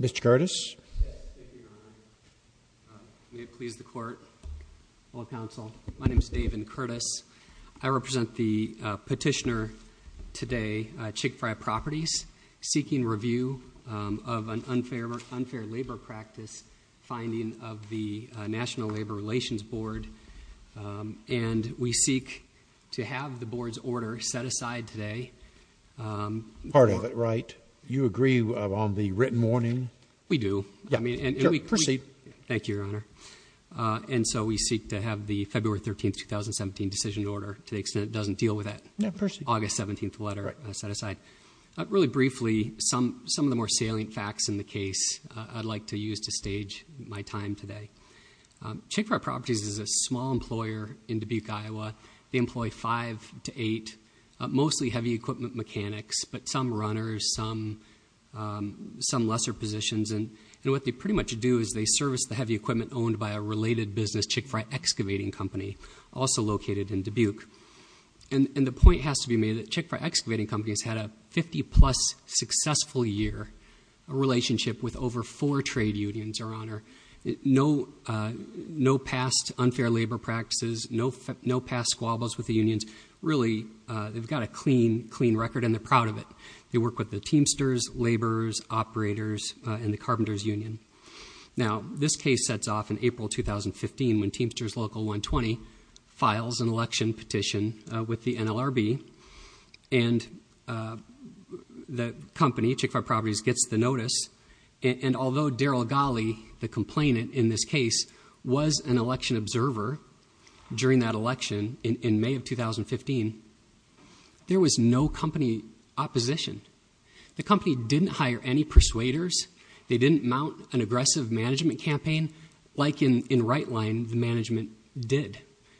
Mr. Curtis, may it please the court, all counsel, my name is David Curtis. I represent the petitioner today, Chick-fil-A Properties, seeking review of an unfair labor practice finding of the National Labor Relations Board, and we seek to have the board's order set aside today. Part of it, right? You agree on the written warning? We do. Proceed. Thank you, Your Honor. And so we seek to have the February 13, 2017 decision order to the Really briefly, some of the more salient facts in the case I'd like to use to stage my time today. Chick-fil-A Properties is a small employer in Dubuque, Iowa. They employ five to eight, mostly heavy equipment mechanics, but some runners, some lesser positions. And what they pretty much do is they service the heavy equipment owned by a related business, Chick-fil-A Excavating Company, also located in Dubuque. And the point has to be made that Chick-fil-A Excavating Company has had a 50 plus successful year, a relationship with over four trade unions, Your Honor. No past unfair labor practices, no past squabbles with the unions. Really, they've got a clean, clean record and they're proud of it. They work with the Teamsters, laborers, operators, and the Carpenters Union. Now, this case sets off in April 2015 when Teamsters Local 120 files an election petition with the NLRB. And the company, Chick-fil-A Properties, gets the notice. And although Daryl Golley, the complainant in this case, was an election observer during that election in May of 2015, there was no company opposition. The company didn't hire any persuaders. They didn't mount an aggressive management campaign like in Rightline the management did.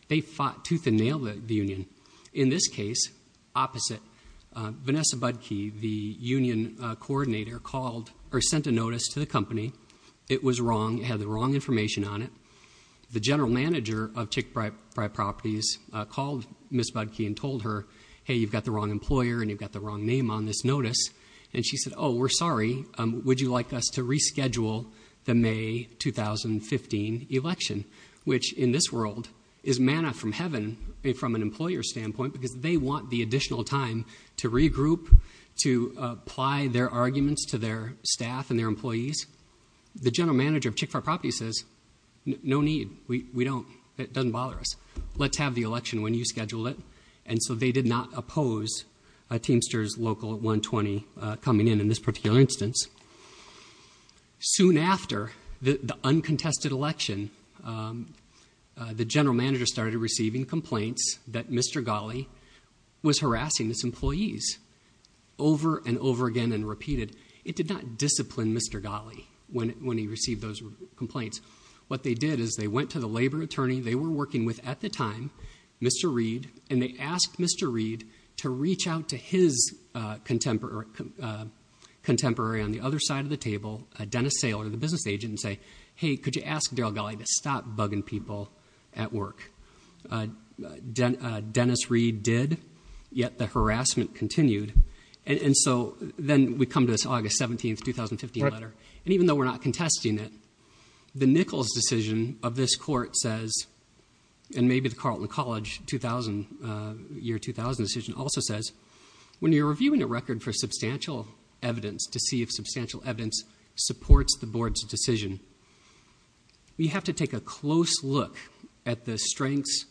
They fought tooth and nail the union. In this case, opposite, Vanessa Budkey, the union coordinator, called or sent a notice to the company. It was wrong. It had the wrong information on it. The general manager of Chick-fil-A Properties called Ms. Budkey and told her, hey, you've got the wrong employer and you've got the wrong name on this notice. And she said, oh, we're sorry. Would you like us to reschedule the May 2015 election? Which, in this world, is manna from heaven from an employer's standpoint because they want the additional time to regroup, to apply their arguments to their staff and their employees. The general manager of Chick-fil-A Properties says, no need. We don't. It doesn't bother us. Let's have the election when you schedule it. And so they did not oppose Teamster's local 120 coming in in this particular instance. Soon after the uncontested election, the general manager started receiving complaints that Mr. Ghali was harassing his employees over and over again and repeated. It did not discipline Mr. Ghali when he received those complaints. What they did is they went to the labor attorney they were working with at the time, Mr. Reed, and they asked Mr. Reed to reach out to his contemporary on the other side of the table, Dennis Saylor, the business agent, and say, hey, could you ask Daryl Ghali to stop bugging people at work? Dennis Reed did, yet the harassment continued. And so then we come to this August 17, 2015 letter. And even though we're not contesting it, the Nichols decision of this court says, and maybe the Carleton College year 2000 decision also says, when you're reviewing a record for substantial evidence to see if substantial evidence supports the board's decision, you have to take a close look at the strengths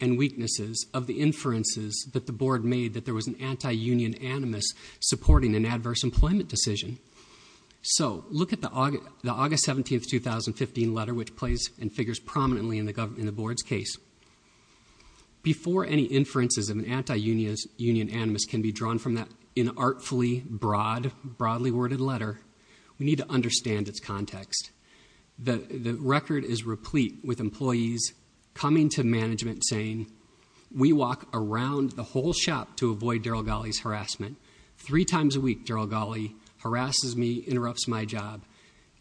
and weaknesses of the inferences that the board made that there was an anti-union animus supporting an adverse employment decision. So look at the August 17, 2015 letter, which plays and figures prominently in the board's case. Before any inferences of an anti-union animus can be drawn from that inartfully broadly worded letter, we need to understand its context. The record is replete with employees coming to management saying, we walk around the whole shop to avoid Daryl Ghali's harassment. Three times a week, Daryl Ghali harasses me, interrupts my job.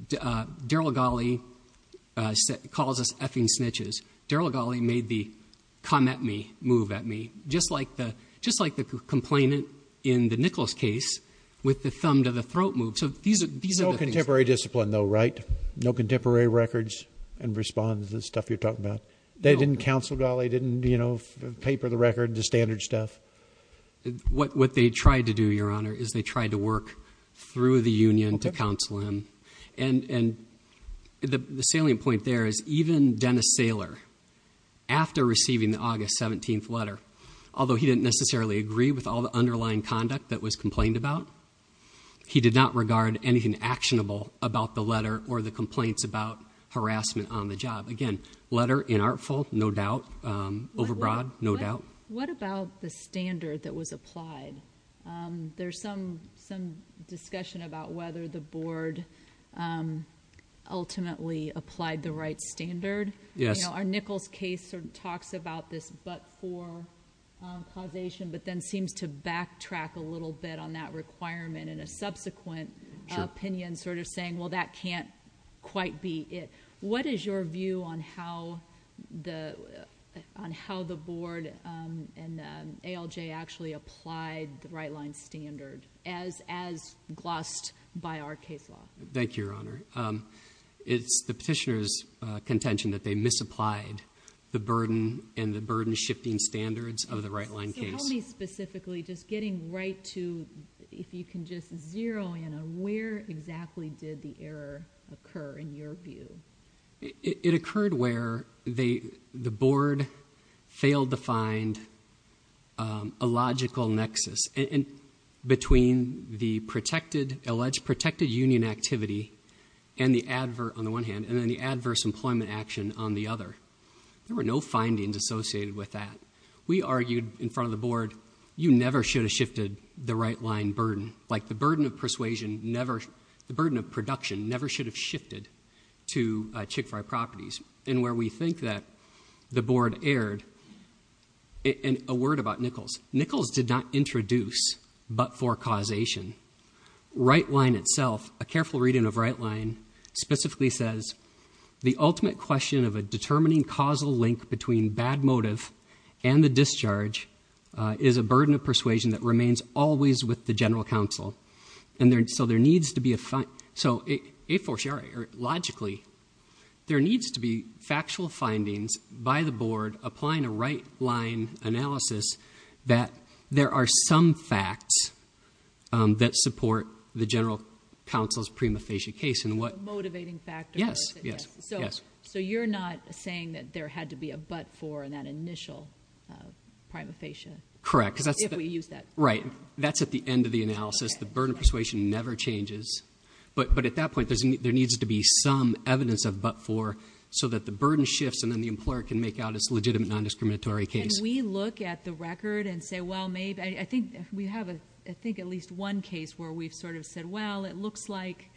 Daryl Ghali calls us effing snitches. Daryl Ghali made the come at me move at me, just like the complainant in the Nichols case with the thumb to the throat move. So these are the things. No contemporary discipline, though, right? No contemporary records and responses, the stuff you're talking about. They didn't counsel Ghali, didn't paper the record, the standard stuff? What they tried to do, Your Honor, is they tried to work through the union to counsel him. And the salient point there is even Dennis Saylor, after receiving the August 17th letter, although he didn't necessarily agree with all the underlying conduct that was complained about, he did not regard anything actionable about the letter or the complaints about harassment on the job. Again, letter, inartful, no doubt. Overbroad, no doubt. What about the standard that was applied? There's some discussion about whether the board ultimately applied the right standard. Yes. Our Nichols case talks about this but-for causation, but then seems to backtrack a little bit on that requirement in a subsequent opinion, sort of saying, well, that can't quite be it. What is your view on how the board and ALJ actually applied the right-line standard as glossed by our case law? Thank you, Your Honor. It's the petitioner's contention that they misapplied the burden and the burden-shifting standards of the right-line case. So help me specifically, just getting right to, if you can just zero in on, where exactly did the error occur in your view? It occurred where the board failed to find a logical nexus between the alleged protected union activity on the one hand and then the adverse employment action on the other. There were no findings associated with that. We argued in front of the board, you never should have shifted the right-line burden. Like the burden of persuasion never, the burden of production never should have shifted to Chick-fil-A properties. And where we think that the board erred, and a word about Nichols. Nichols did not introduce but-for causation. Right-line itself, a careful reading of right-line, specifically says, the ultimate question of a determining causal link between bad motive and the discharge is a burden of persuasion that remains always with the general counsel. So logically, there needs to be factual findings by the board applying a right-line analysis that there are some facts that support the general counsel's prima facie case and what... A motivating factor. Yes. So you're not saying that there had to be a but-for in that initial prima facie? Correct. If we use that. Right. That's at the end of the analysis. The burden of persuasion never changes. But at that point, there needs to be some evidence of but-for so that the burden shifts and then the employer can make out its legitimate non-discriminatory case. Can we look at the record and say, well, maybe, I think we have at least one case where we've sort of said, well, it looks like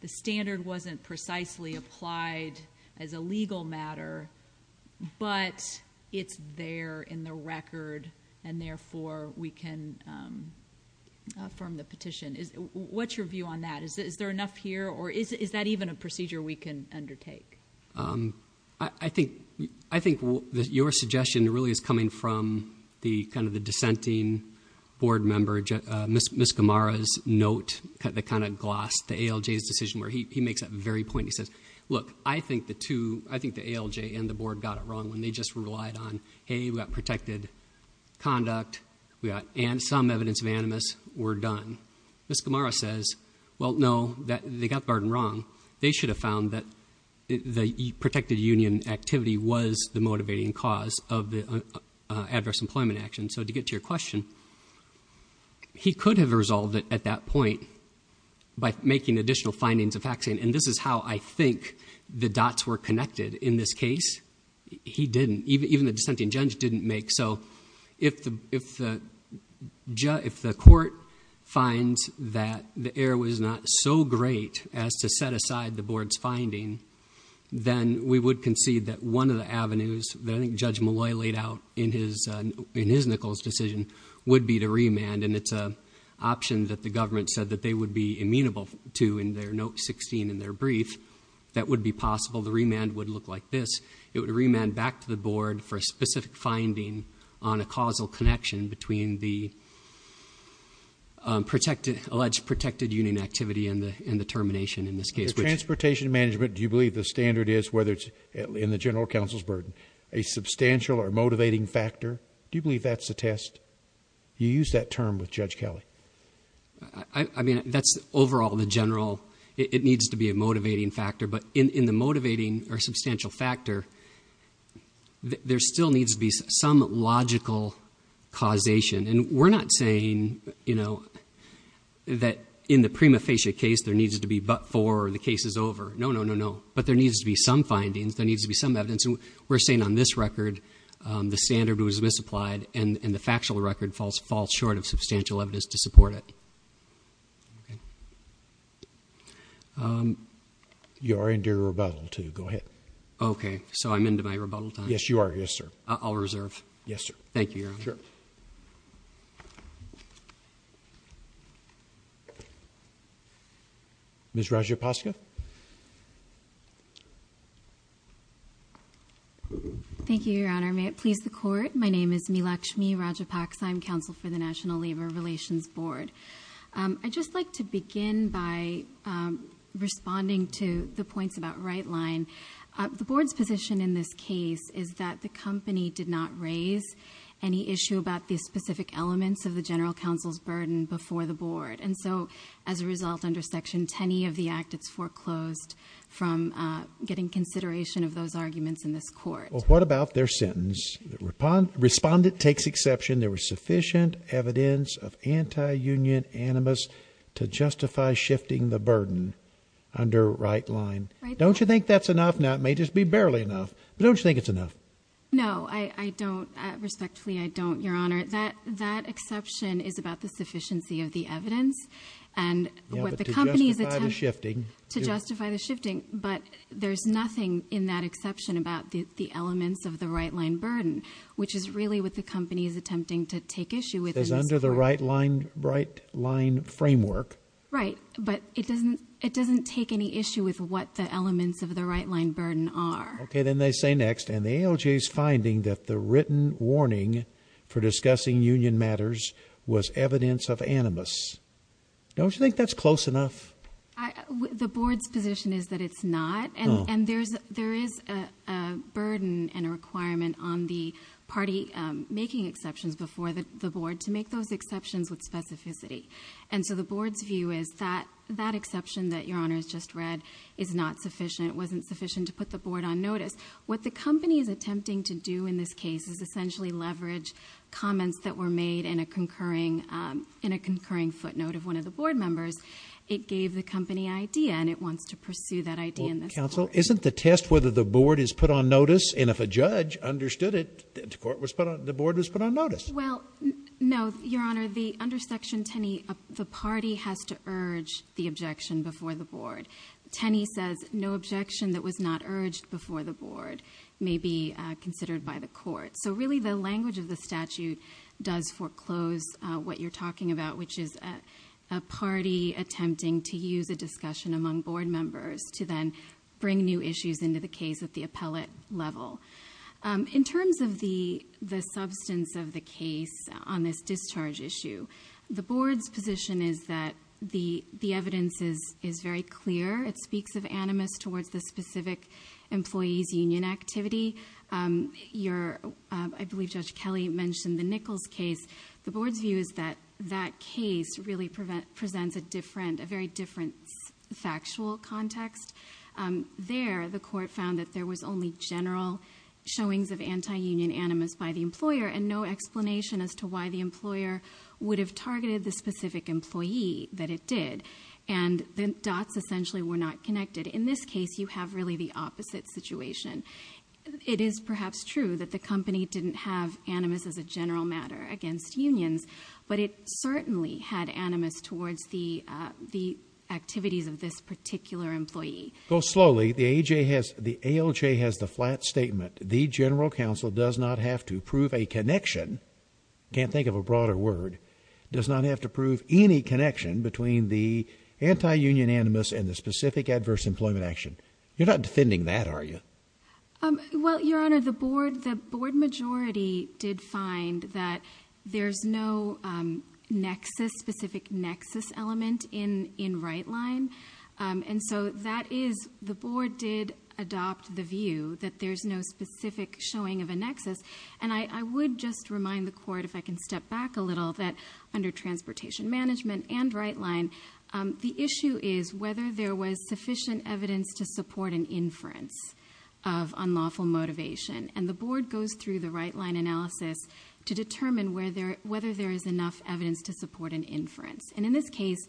the standard wasn't precisely applied as a legal matter, but it's there in the record, and therefore, we can affirm the petition. What's your view on that? Is there enough here, or is that even a procedure we can undertake? I think your suggestion really is coming from the kind of the dissenting board member, Ms. Gamara's note, the kind of gloss, the ALJ's decision where he makes that very point. He says, look, I think the ALJ and the board got it wrong when they just relied on, hey, we've got protected conduct, and some evidence of animus, we're done. Ms. Gamara says, well, no, they got the burden wrong. They should have found that the protected union activity was the motivating cause of the adverse employment action. So to get to your question, he could have resolved it at that point by making additional findings of action, and this is how I think the dots were connected in this case. He didn't. Even the dissenting judge didn't make. So if the court finds that the error was not so great as to set aside the board's finding, then we would concede that one of the avenues that I think Judge Malloy laid out in his Nichols decision would be to remand, and it's an option that the government said that they would be amenable to in their note 16 in their brief that would be possible. The remand would look like this. It would remand back to the board for a specific finding on a causal connection between the alleged protected union activity and the termination in this case. As far as transportation management, do you believe the standard is, whether it's in the general counsel's burden, a substantial or motivating factor? Do you believe that's the test? You used that term with Judge Kelly. I mean, that's overall the general. It needs to be a motivating factor, but in the motivating or substantial factor, there still needs to be some logical causation, and we're not saying that in the prima facie case there needs to be but for the case is over. No, no, no, no, but there needs to be some findings. There needs to be some evidence, and we're saying on this record the standard was misapplied, and the factual record falls short of substantial evidence to support it. You are in your rebuttal, too. Go ahead. Okay, so I'm into my rebuttal time? Yes, you are. Yes, sir. I'll reserve. Yes, sir. Thank you, Your Honor. Sure. Ms. Rajapaksa? Thank you, Your Honor. May it please the Court, my name is Meelakshmi Rajapaksa. I'm counsel for the National Labor Relations Board. I'd just like to begin by responding to the points about right line. The Board's position in this case is that the company did not raise any issue about the specific elements of the general counsel's burden before the Board, and so as a result under Section 10E of the Act, it's foreclosed from getting consideration of those arguments in this Court. Well, what about their sentence? Respondent takes exception. There was sufficient evidence of anti-union animus to justify shifting the burden under right line. Don't you think that's enough? Now, it may just be barely enough, but don't you think it's enough? No, I don't. Respectfully, I don't, Your Honor. That exception is about the sufficiency of the evidence and what the company is attempting to justify the shifting, but there's nothing in that exception about the elements of the right line burden, which is really what the company is attempting to take issue with in this Court. It's under the right line framework. Right. But it doesn't take any issue with what the elements of the right line burden are. Okay, then they say next, and the ALJ is finding that the written warning for discussing union matters was evidence of animus. Don't you think that's close enough? The Board's position is that it's not, and there is a burden and a requirement on the party making exceptions before the Board to make those exceptions with specificity, and so the Board's view is that that exception that Your Honor has just read is not sufficient, wasn't sufficient to put the Board on notice. What the company is attempting to do in this case is essentially leverage comments that were made in a concurring footnote of one of the Board members. It gave the company an idea, and it wants to pursue that idea in this Court. Counsel, isn't the test whether the Board is put on notice, and if a judge understood it, the Board was put on notice? Well, no, Your Honor. Under Section 10E, the party has to urge the objection before the Board. 10E says no objection that was not urged before the Board may be considered by the Court. So really the language of the statute does foreclose what you're talking about, which is a party attempting to use a discussion among Board members to then bring new issues into the case at the appellate level. In terms of the substance of the case on this discharge issue, the Board's position is that the evidence is very clear. It speaks of animus towards the specific employee's union activity. I believe Judge Kelly mentioned the Nichols case. The Board's view is that that case really presents a very different factual context. There, the Court found that there was only general showings of anti-union animus by the employer and no explanation as to why the employer would have targeted the specific employee that it did, and the dots essentially were not connected. In this case, you have really the opposite situation. It is perhaps true that the company didn't have animus as a general matter against unions, but it certainly had animus towards the activities of this particular employee. Go slowly. The ALJ has the flat statement. The General Counsel does not have to prove a connection. Can't think of a broader word. Does not have to prove any connection between the anti-union animus and the specific adverse employment action. You're not defending that, are you? Well, Your Honor, the Board majority did find that there's no specific nexus element in Wright-Line, and so the Board did adopt the view that there's no specific showing of a nexus, and I would just remind the Court, if I can step back a little, that under Transportation Management and Wright-Line, the issue is whether there was sufficient evidence to support an inference of unlawful motivation, and the Board goes through the Wright-Line analysis to determine whether there is enough evidence to support an inference, and in this case,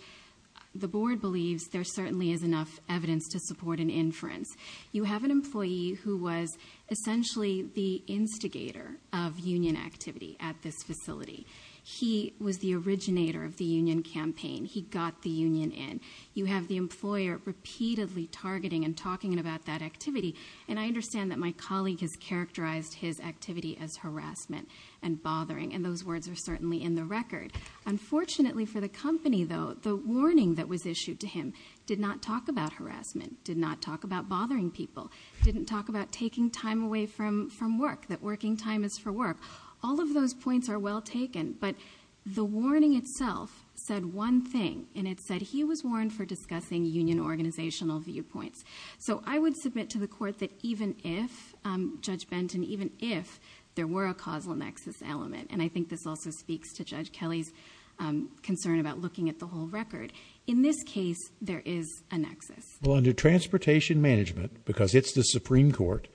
the Board believes there certainly is enough evidence to support an inference. You have an employee who was essentially the instigator of union activity at this facility. He was the originator of the union campaign. He got the union in. You have the employer repeatedly targeting and talking about that activity, and I understand that my colleague has characterized his activity as harassment and bothering, and those words are certainly in the record. Unfortunately for the company, though, the warning that was issued to him did not talk about harassment, did not talk about bothering people, didn't talk about taking time away from work, that working time is for work. All of those points are well taken, but the warning itself said one thing, and it said he was warned for discussing union organizational viewpoints. So I would submit to the Court that even if, Judge Benton, even if there were a causal nexus element, and I think this also speaks to Judge Kelly's concern about looking at the whole record, in this case, there is a nexus. Well, under Transportation Management, because it's the Supreme Court,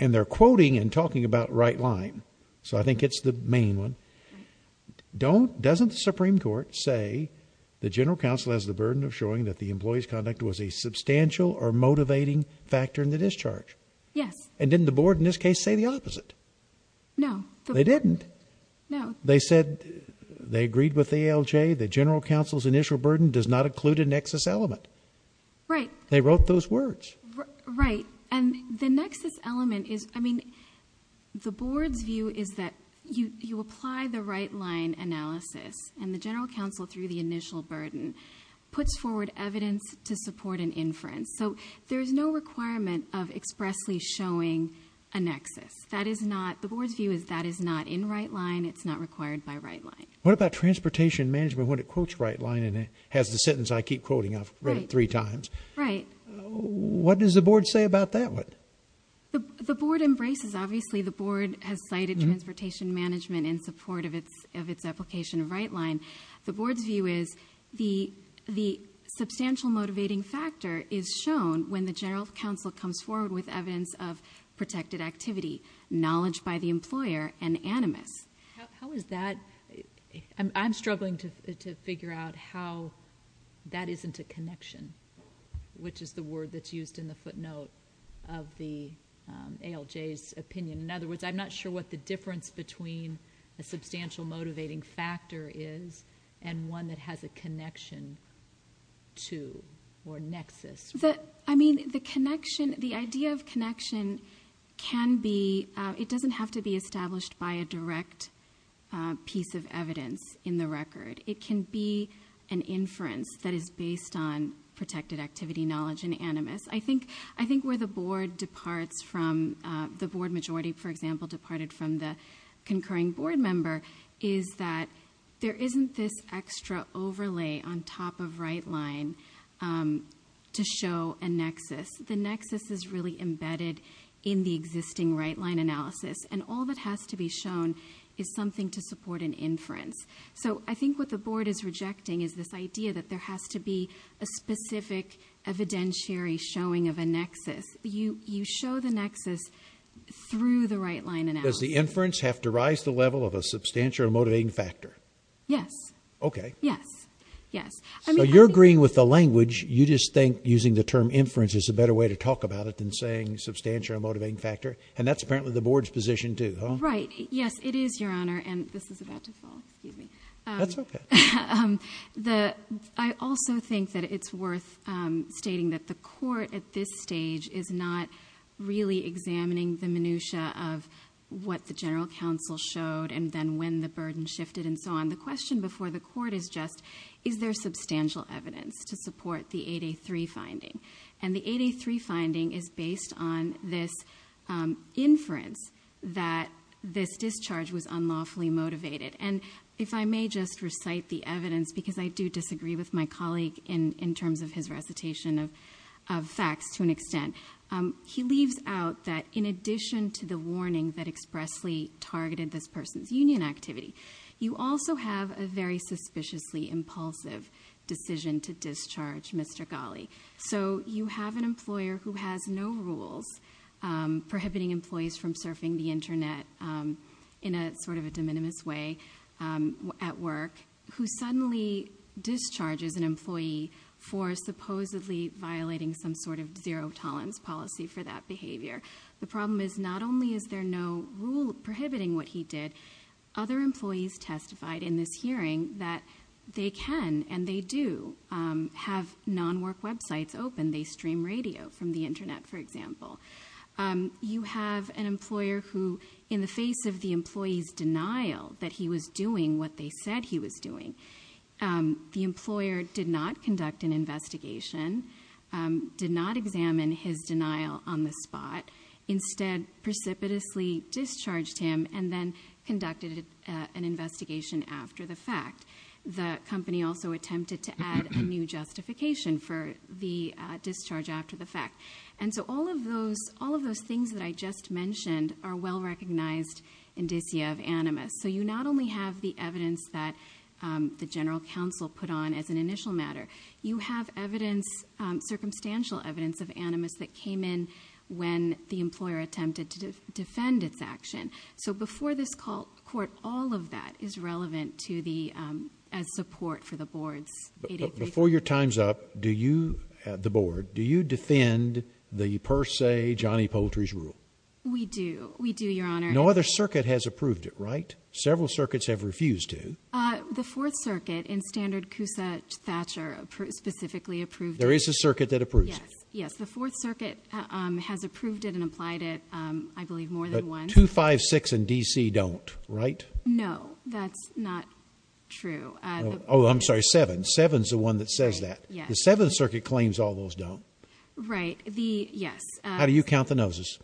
and they're quoting and talking about right line, so I think it's the main one, doesn't the Supreme Court say the General Counsel has the burden of showing that the employee's conduct was a substantial or motivating factor in the discharge? Yes. And didn't the Board, in this case, say the opposite? No. They didn't. No. They said they agreed with the ALJ that General Counsel's initial burden does not include a nexus element. Right. They wrote those words. Right. And the nexus element is, I mean, the Board's view is that you apply the right line analysis, and the General Counsel, through the initial burden, puts forward evidence to support an inference. So there is no requirement of expressly showing a nexus. That is not, the Board's view is that is not in right line. It's not required by right line. What about Transportation Management when it quotes right line, and it has the sentence I keep quoting? I've read it three times. Right. What does the Board say about that one? The Board embraces, obviously, the Board has cited Transportation Management in support of its application of right line. The Board's view is the substantial motivating factor is shown when the General Counsel comes forward with evidence of protected activity, knowledge by the employer, and animus. How is that? I'm struggling to figure out how that isn't a connection, which is the word that's used in the footnote of the ALJ's opinion. In other words, I'm not sure what the difference between a substantial motivating factor is and one that has a connection to or nexus. The idea of connection can be, it doesn't have to be established by a direct piece of evidence in the record. It can be an inference that is based on protected activity, knowledge, and animus. I think where the Board departs from, the Board majority, for example, departed from the concurring Board member is that there isn't this extra overlay on top of right line to show a nexus. The nexus is really embedded in the existing right line analysis, and all that has to be shown is something to support an inference. I think what the Board is rejecting is this idea that there has to be a specific evidentiary showing of a nexus. You show the nexus through the right line analysis. Does the inference have to rise to the level of a substantial motivating factor? Yes. Okay. Yes. So you're agreeing with the language. You just think using the term inference is a better way to talk about it than saying substantial motivating factor, and that's apparently the Board's position too, huh? Right. Yes, it is, Your Honor, and this is about to fall. Excuse me. That's okay. I also think that it's worth stating that the Court at this stage is not really examining the minutia of what the general counsel showed and then when the burden shifted and so on. The question before the Court is just, is there substantial evidence to support the 8A3 finding? And the 8A3 finding is based on this inference that this discharge was unlawfully motivated. And if I may just recite the evidence, because I do disagree with my colleague in terms of his recitation of facts to an extent, he leaves out that in addition to the warning that expressly targeted this person's union activity, you also have a very suspiciously impulsive decision to discharge Mr. Ghali. So you have an employer who has no rules prohibiting employees from surfing the Internet in a sort of a de minimis way at work who suddenly discharges an employee for supposedly violating some sort of zero tolerance policy for that behavior. The problem is not only is there no rule prohibiting what he did, other employees testified in this hearing that they can and they do have non-work websites open. They stream radio from the Internet, for example. You have an employer who, in the face of the employee's denial that he was doing what they said he was doing, the employer did not conduct an investigation, did not examine his denial on the spot, instead precipitously discharged him and then conducted an investigation after the fact. The company also attempted to add a new justification for the discharge after the fact. And so all of those things that I just mentioned are well recognized indicia of animus. So you not only have the evidence that the general counsel put on as an initial matter, you have circumstantial evidence of animus that came in when the employer attempted to defend its action. So before this court, all of that is relevant as support for the board's 883. Before your time's up, the board, do you defend the per se Johnny Poultry's rule? We do. We do, Your Honor. No other circuit has approved it, right? Several circuits have refused to. The Fourth Circuit in standard Cousa-Thatcher specifically approved it. There is a circuit that approves it? Yes. Yes. The Fourth Circuit has approved it and applied it, I believe, more than once. But 256 and D.C. don't, right? No, that's not true. Oh, I'm sorry, 7. 7's the one that says that. The Seventh Circuit claims all those don't. Right. The, yes. How do you count the noses?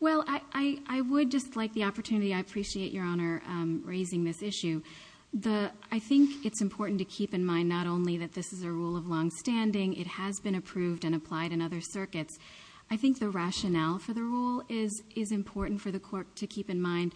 Well, I would just like the opportunity, I appreciate, Your Honor, raising this issue. The, I think it's important to keep in mind not only that this is a rule of longstanding, it has been approved and applied in other circuits. I think the rationale for the rule is important for the court to keep in mind.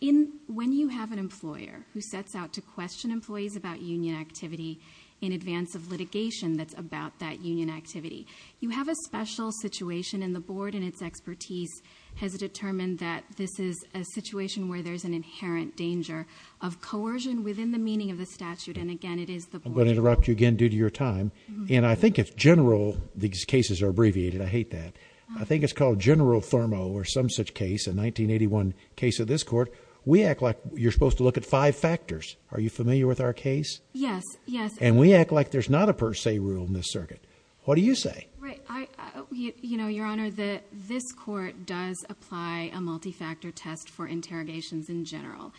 In, when you have an employer who sets out to question employees about union activity in advance of litigation that's about that union activity, you have a special situation and the Board in its expertise has determined that this is a situation where there's an inherent danger of coercion within the meaning of the statute. And again, it is the Board's fault. I'm going to interrupt you again due to your time. And I think it's general, these cases are abbreviated, I hate that. I think it's called general thermo or some such case, a 1981 case of this court. We act like you're supposed to look at five factors. Are you familiar with our case? Yes. Yes. And we act like there's not a per se rule in this circuit. What do you say? Right. I, you know, Your Honor, that this court does apply a multi-factor test for interrogations in general.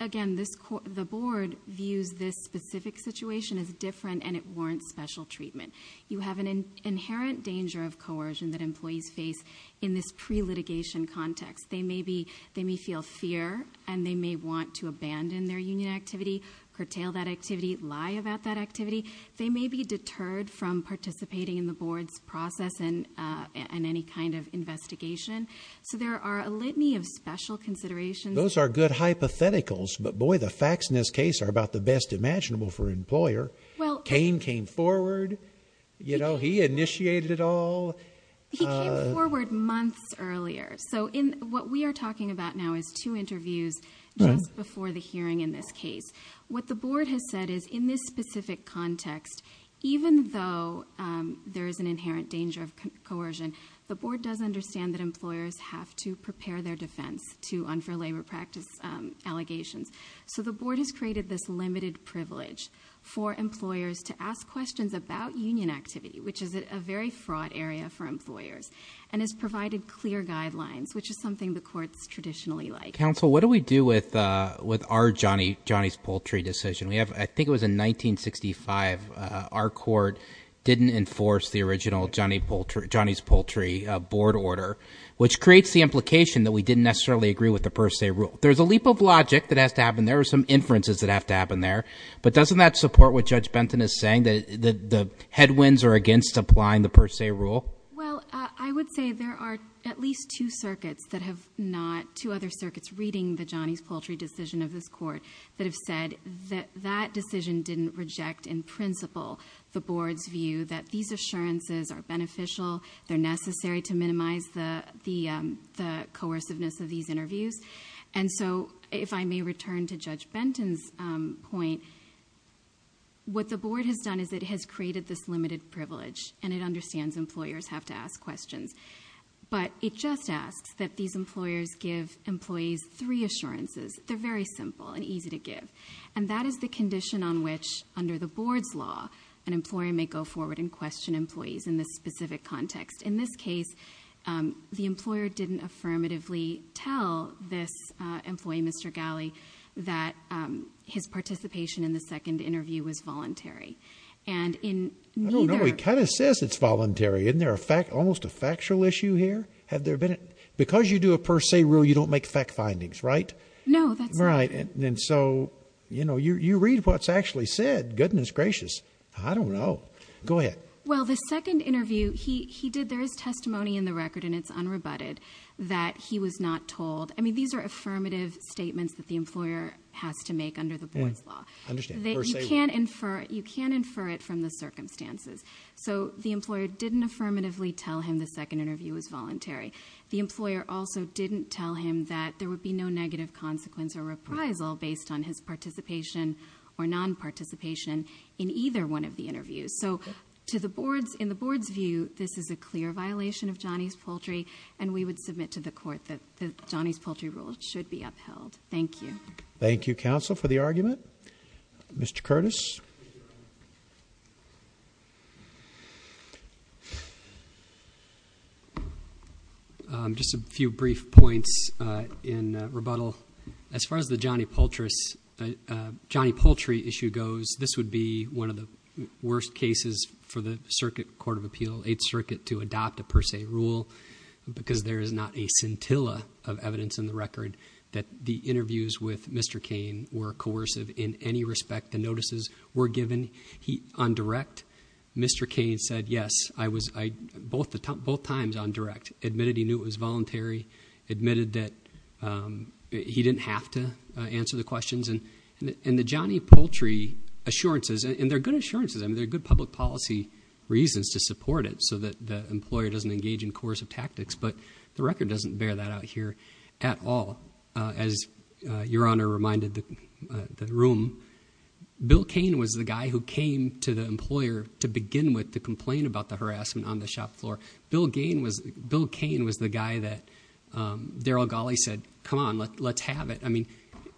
Again, this, the Board views this specific situation as different and it warrants special treatment. You have an inherent danger of coercion that employees face in this pre-litigation context. They may be, they may feel fear and they may want to abandon their union activity, curtail that activity, lie about that activity. They may be deterred from participating in the Board's process and any kind of investigation. So there are a litany of special considerations. Those are good hypotheticals, but boy, the facts in this case are about the best imaginable for an employer. Well. Kane came forward, you know, he initiated it all. He came forward months earlier. So in what we are talking about now is two interviews just before the hearing in this case. What the Board has said is in this specific context, even though there is an inherent danger of coercion, the Board does understand that employers have to prepare their defense to unfair labor practice allegations. So the Board has created this limited privilege for employers to ask questions about union activity, which is a very fraught area for employers, and has provided clear guidelines, which is something the courts traditionally like. Counsel, what do we do with our Johnny's Poultry decision? I think it was in 1965. Our court didn't enforce the original Johnny's Poultry Board order, which creates the implication that we didn't necessarily agree with the per se rule. There's a leap of logic that has to happen. There are some inferences that have to happen there. But doesn't that support what Judge Benton is saying, that the headwinds are against applying the per se rule? Well, I would say there are at least two circuits that have not, two other circuits reading the Johnny's Poultry decision of this court, that have said that that decision didn't reject in principle the Board's view that these assurances are beneficial, they're necessary to minimize the coerciveness of these interviews. And so if I may return to Judge Benton's point, what the Board has done is it has created this limited privilege, and it understands employers have to ask questions. But it just asks that these employers give employees three assurances. They're very simple and easy to give. And that is the condition on which, under the Board's law, an employer may go forward and question employees in this specific context. In this case, the employer didn't affirmatively tell this employee, Mr. Galley, that his participation in the second interview was voluntary. And in neither... I don't know. He kind of says it's voluntary. Isn't there almost a factual issue here? Because you do a per se rule, you don't make fact findings, right? No, that's not... Right. And so you read what's actually said, goodness gracious. I don't know. Go ahead. Well, the second interview, he did. There is testimony in the record, and it's unrebutted, that he was not told. I mean, these are affirmative statements that the employer has to make under the Board's law. I understand. Per se rule. You can infer it from the circumstances. So the employer didn't affirmatively tell him the second interview was voluntary. The employer also didn't tell him that there would be no negative consequence or reprisal based on his participation or non-participation in either one of the interviews. So in the Board's view, this is a clear violation of Johnny's Poultry, and we would submit to the Court that Johnny's Poultry rule should be upheld. Thank you. Thank you, counsel, for the argument. Mr. Curtis. Just a few brief points in rebuttal. As far as the Johnny Poultry issue goes, this would be one of the worst cases for the Circuit Court of Appeal, Eighth Circuit, to adopt a per se rule because there is not a scintilla of evidence in the record that the interviews with Mr. Cain were coercive in any respect. The notices were given on direct. Mr. Cain said, yes, both times on direct, admitted he knew it was voluntary, admitted that he didn't have to answer the questions. And the Johnny Poultry assurances, and they're good assurances. I mean, they're good public policy reasons to support it so that the employer doesn't engage in coercive tactics, but the record doesn't bear that out here at all. As Your Honor reminded the room, Bill Cain was the guy who came to the employer to begin with to complain about the harassment on the shop floor. Bill Cain was the guy that Darryl Gawley said, come on, let's have it. I mean,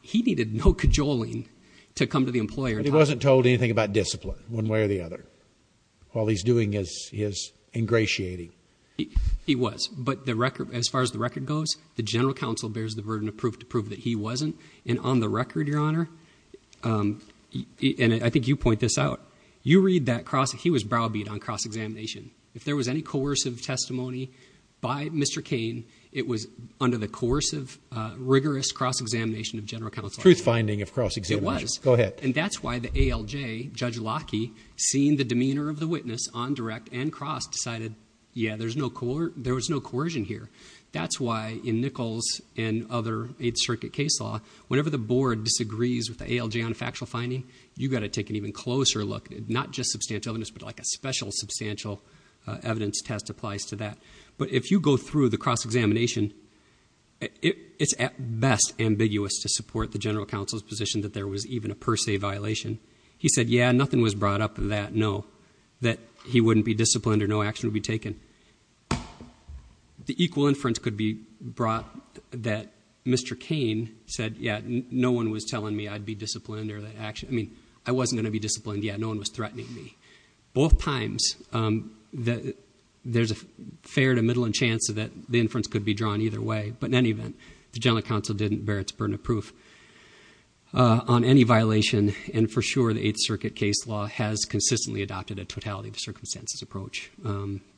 he needed no cajoling to come to the employer. But he wasn't told anything about discipline one way or the other. All he's doing is ingratiating. He was, but as far as the record goes, the general counsel bears the burden of proof to prove that he wasn't. And on the record, Your Honor, and I think you point this out, you read that he was browbeat on cross-examination. If there was any coercive testimony by Mr. Cain, it was under the course of rigorous cross-examination of general counsel. Truth finding of cross-examination. It was. And that's why the ALJ, Judge Locke, seeing the demeanor of the witness on direct and cross, decided, yeah, there was no coercion here. That's why in Nichols and other 8th Circuit case law, whenever the board disagrees with the ALJ on factual finding, you've got to take an even closer look, not just substantial evidence, but like a special substantial evidence test applies to that. But if you go through the cross-examination, it's at best ambiguous to support the general counsel's position that there was even a per se violation. He said, yeah, nothing was brought up in that, no, that he wouldn't be disciplined or no action would be taken. The equal inference could be brought that Mr. Cain said, yeah, no one was telling me I'd be disciplined or that action, I mean, I wasn't going to be disciplined, yeah, no one was threatening me. Both times, there's a fair to middle chance that the inference could be drawn either way. But in any event, the general counsel didn't bear its burden of proof on any violation. And for sure, the 8th Circuit case law has consistently adopted a totality of circumstances approach. And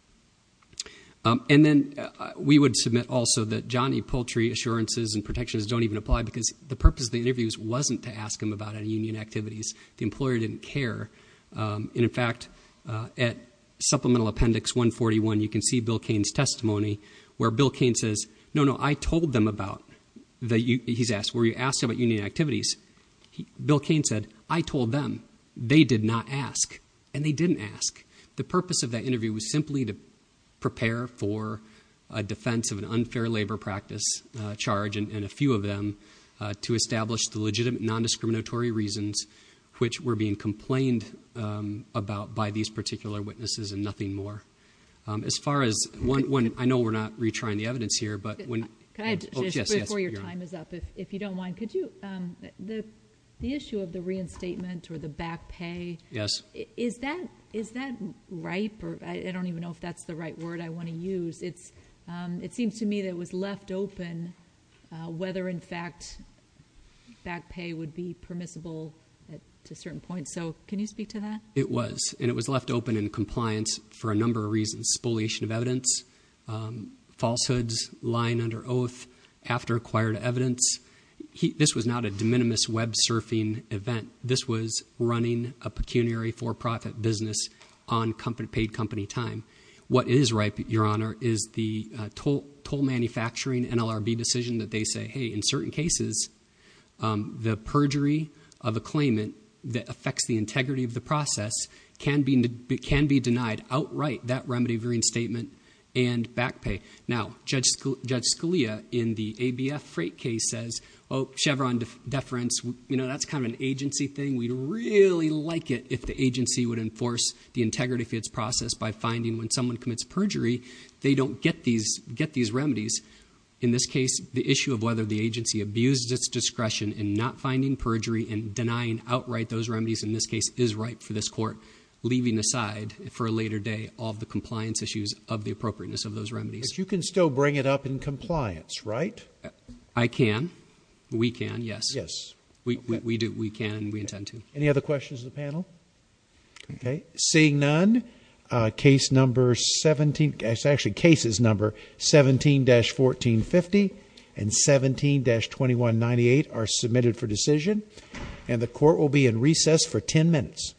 then we would submit also that Johnny Poultry assurances and protections don't even apply because the purpose of the interviews wasn't to ask him about any union activities. The employer didn't care. And in fact, at Supplemental Appendix 141, you can see Bill Cain's testimony where Bill Cain says, no, no, I told them about that. He's asked where you asked about union activities. Bill Cain said, I told them they did not ask and they didn't ask. The purpose of that interview was simply to prepare for a defense of an unfair labor practice charge and a few of them to establish the legitimate nondiscriminatory reasons which were being complained about by these particular witnesses and nothing more. As far as one, I know we're not retrying the evidence here, but when- Before your time is up, if you don't mind, could you- The issue of the reinstatement or the back pay, is that right? I don't even know if that's the right word I want to use. It seems to me that it was left open whether in fact back pay would be permissible at a certain point. So can you speak to that? It was, and it was left open in compliance for a number of reasons. Spoliation of evidence, falsehoods, lying under oath after acquired evidence. This was not a de minimis web surfing event. This was running a pecuniary for-profit business on paid company time. What is right, your honor, is the toll manufacturing NLRB decision that they say, hey, in certain cases, the perjury of a claimant that affects the integrity of the process can be denied outright, that remedy of reinstatement and back pay. Now, Judge Scalia in the ABF freight case says, oh, Chevron deference, you know, that's kind of an agency thing. We'd really like it if the agency would enforce the integrity of its process by finding when someone commits perjury, they don't get these remedies. In this case, the issue of whether the agency abused its discretion in not finding perjury and denying outright those remedies in this case is ripe for this court, leaving aside for a later day all of the compliance issues of the appropriateness of those remedies. But you can still bring it up in compliance, right? I can. We can, yes. Yes. We do. We can. We intend to. Any other questions of the panel? Okay. Seeing none, case number 17, actually case number 17-1450 and 17-2198 are submitted for decision. And the court will be in recess for 10 minutes.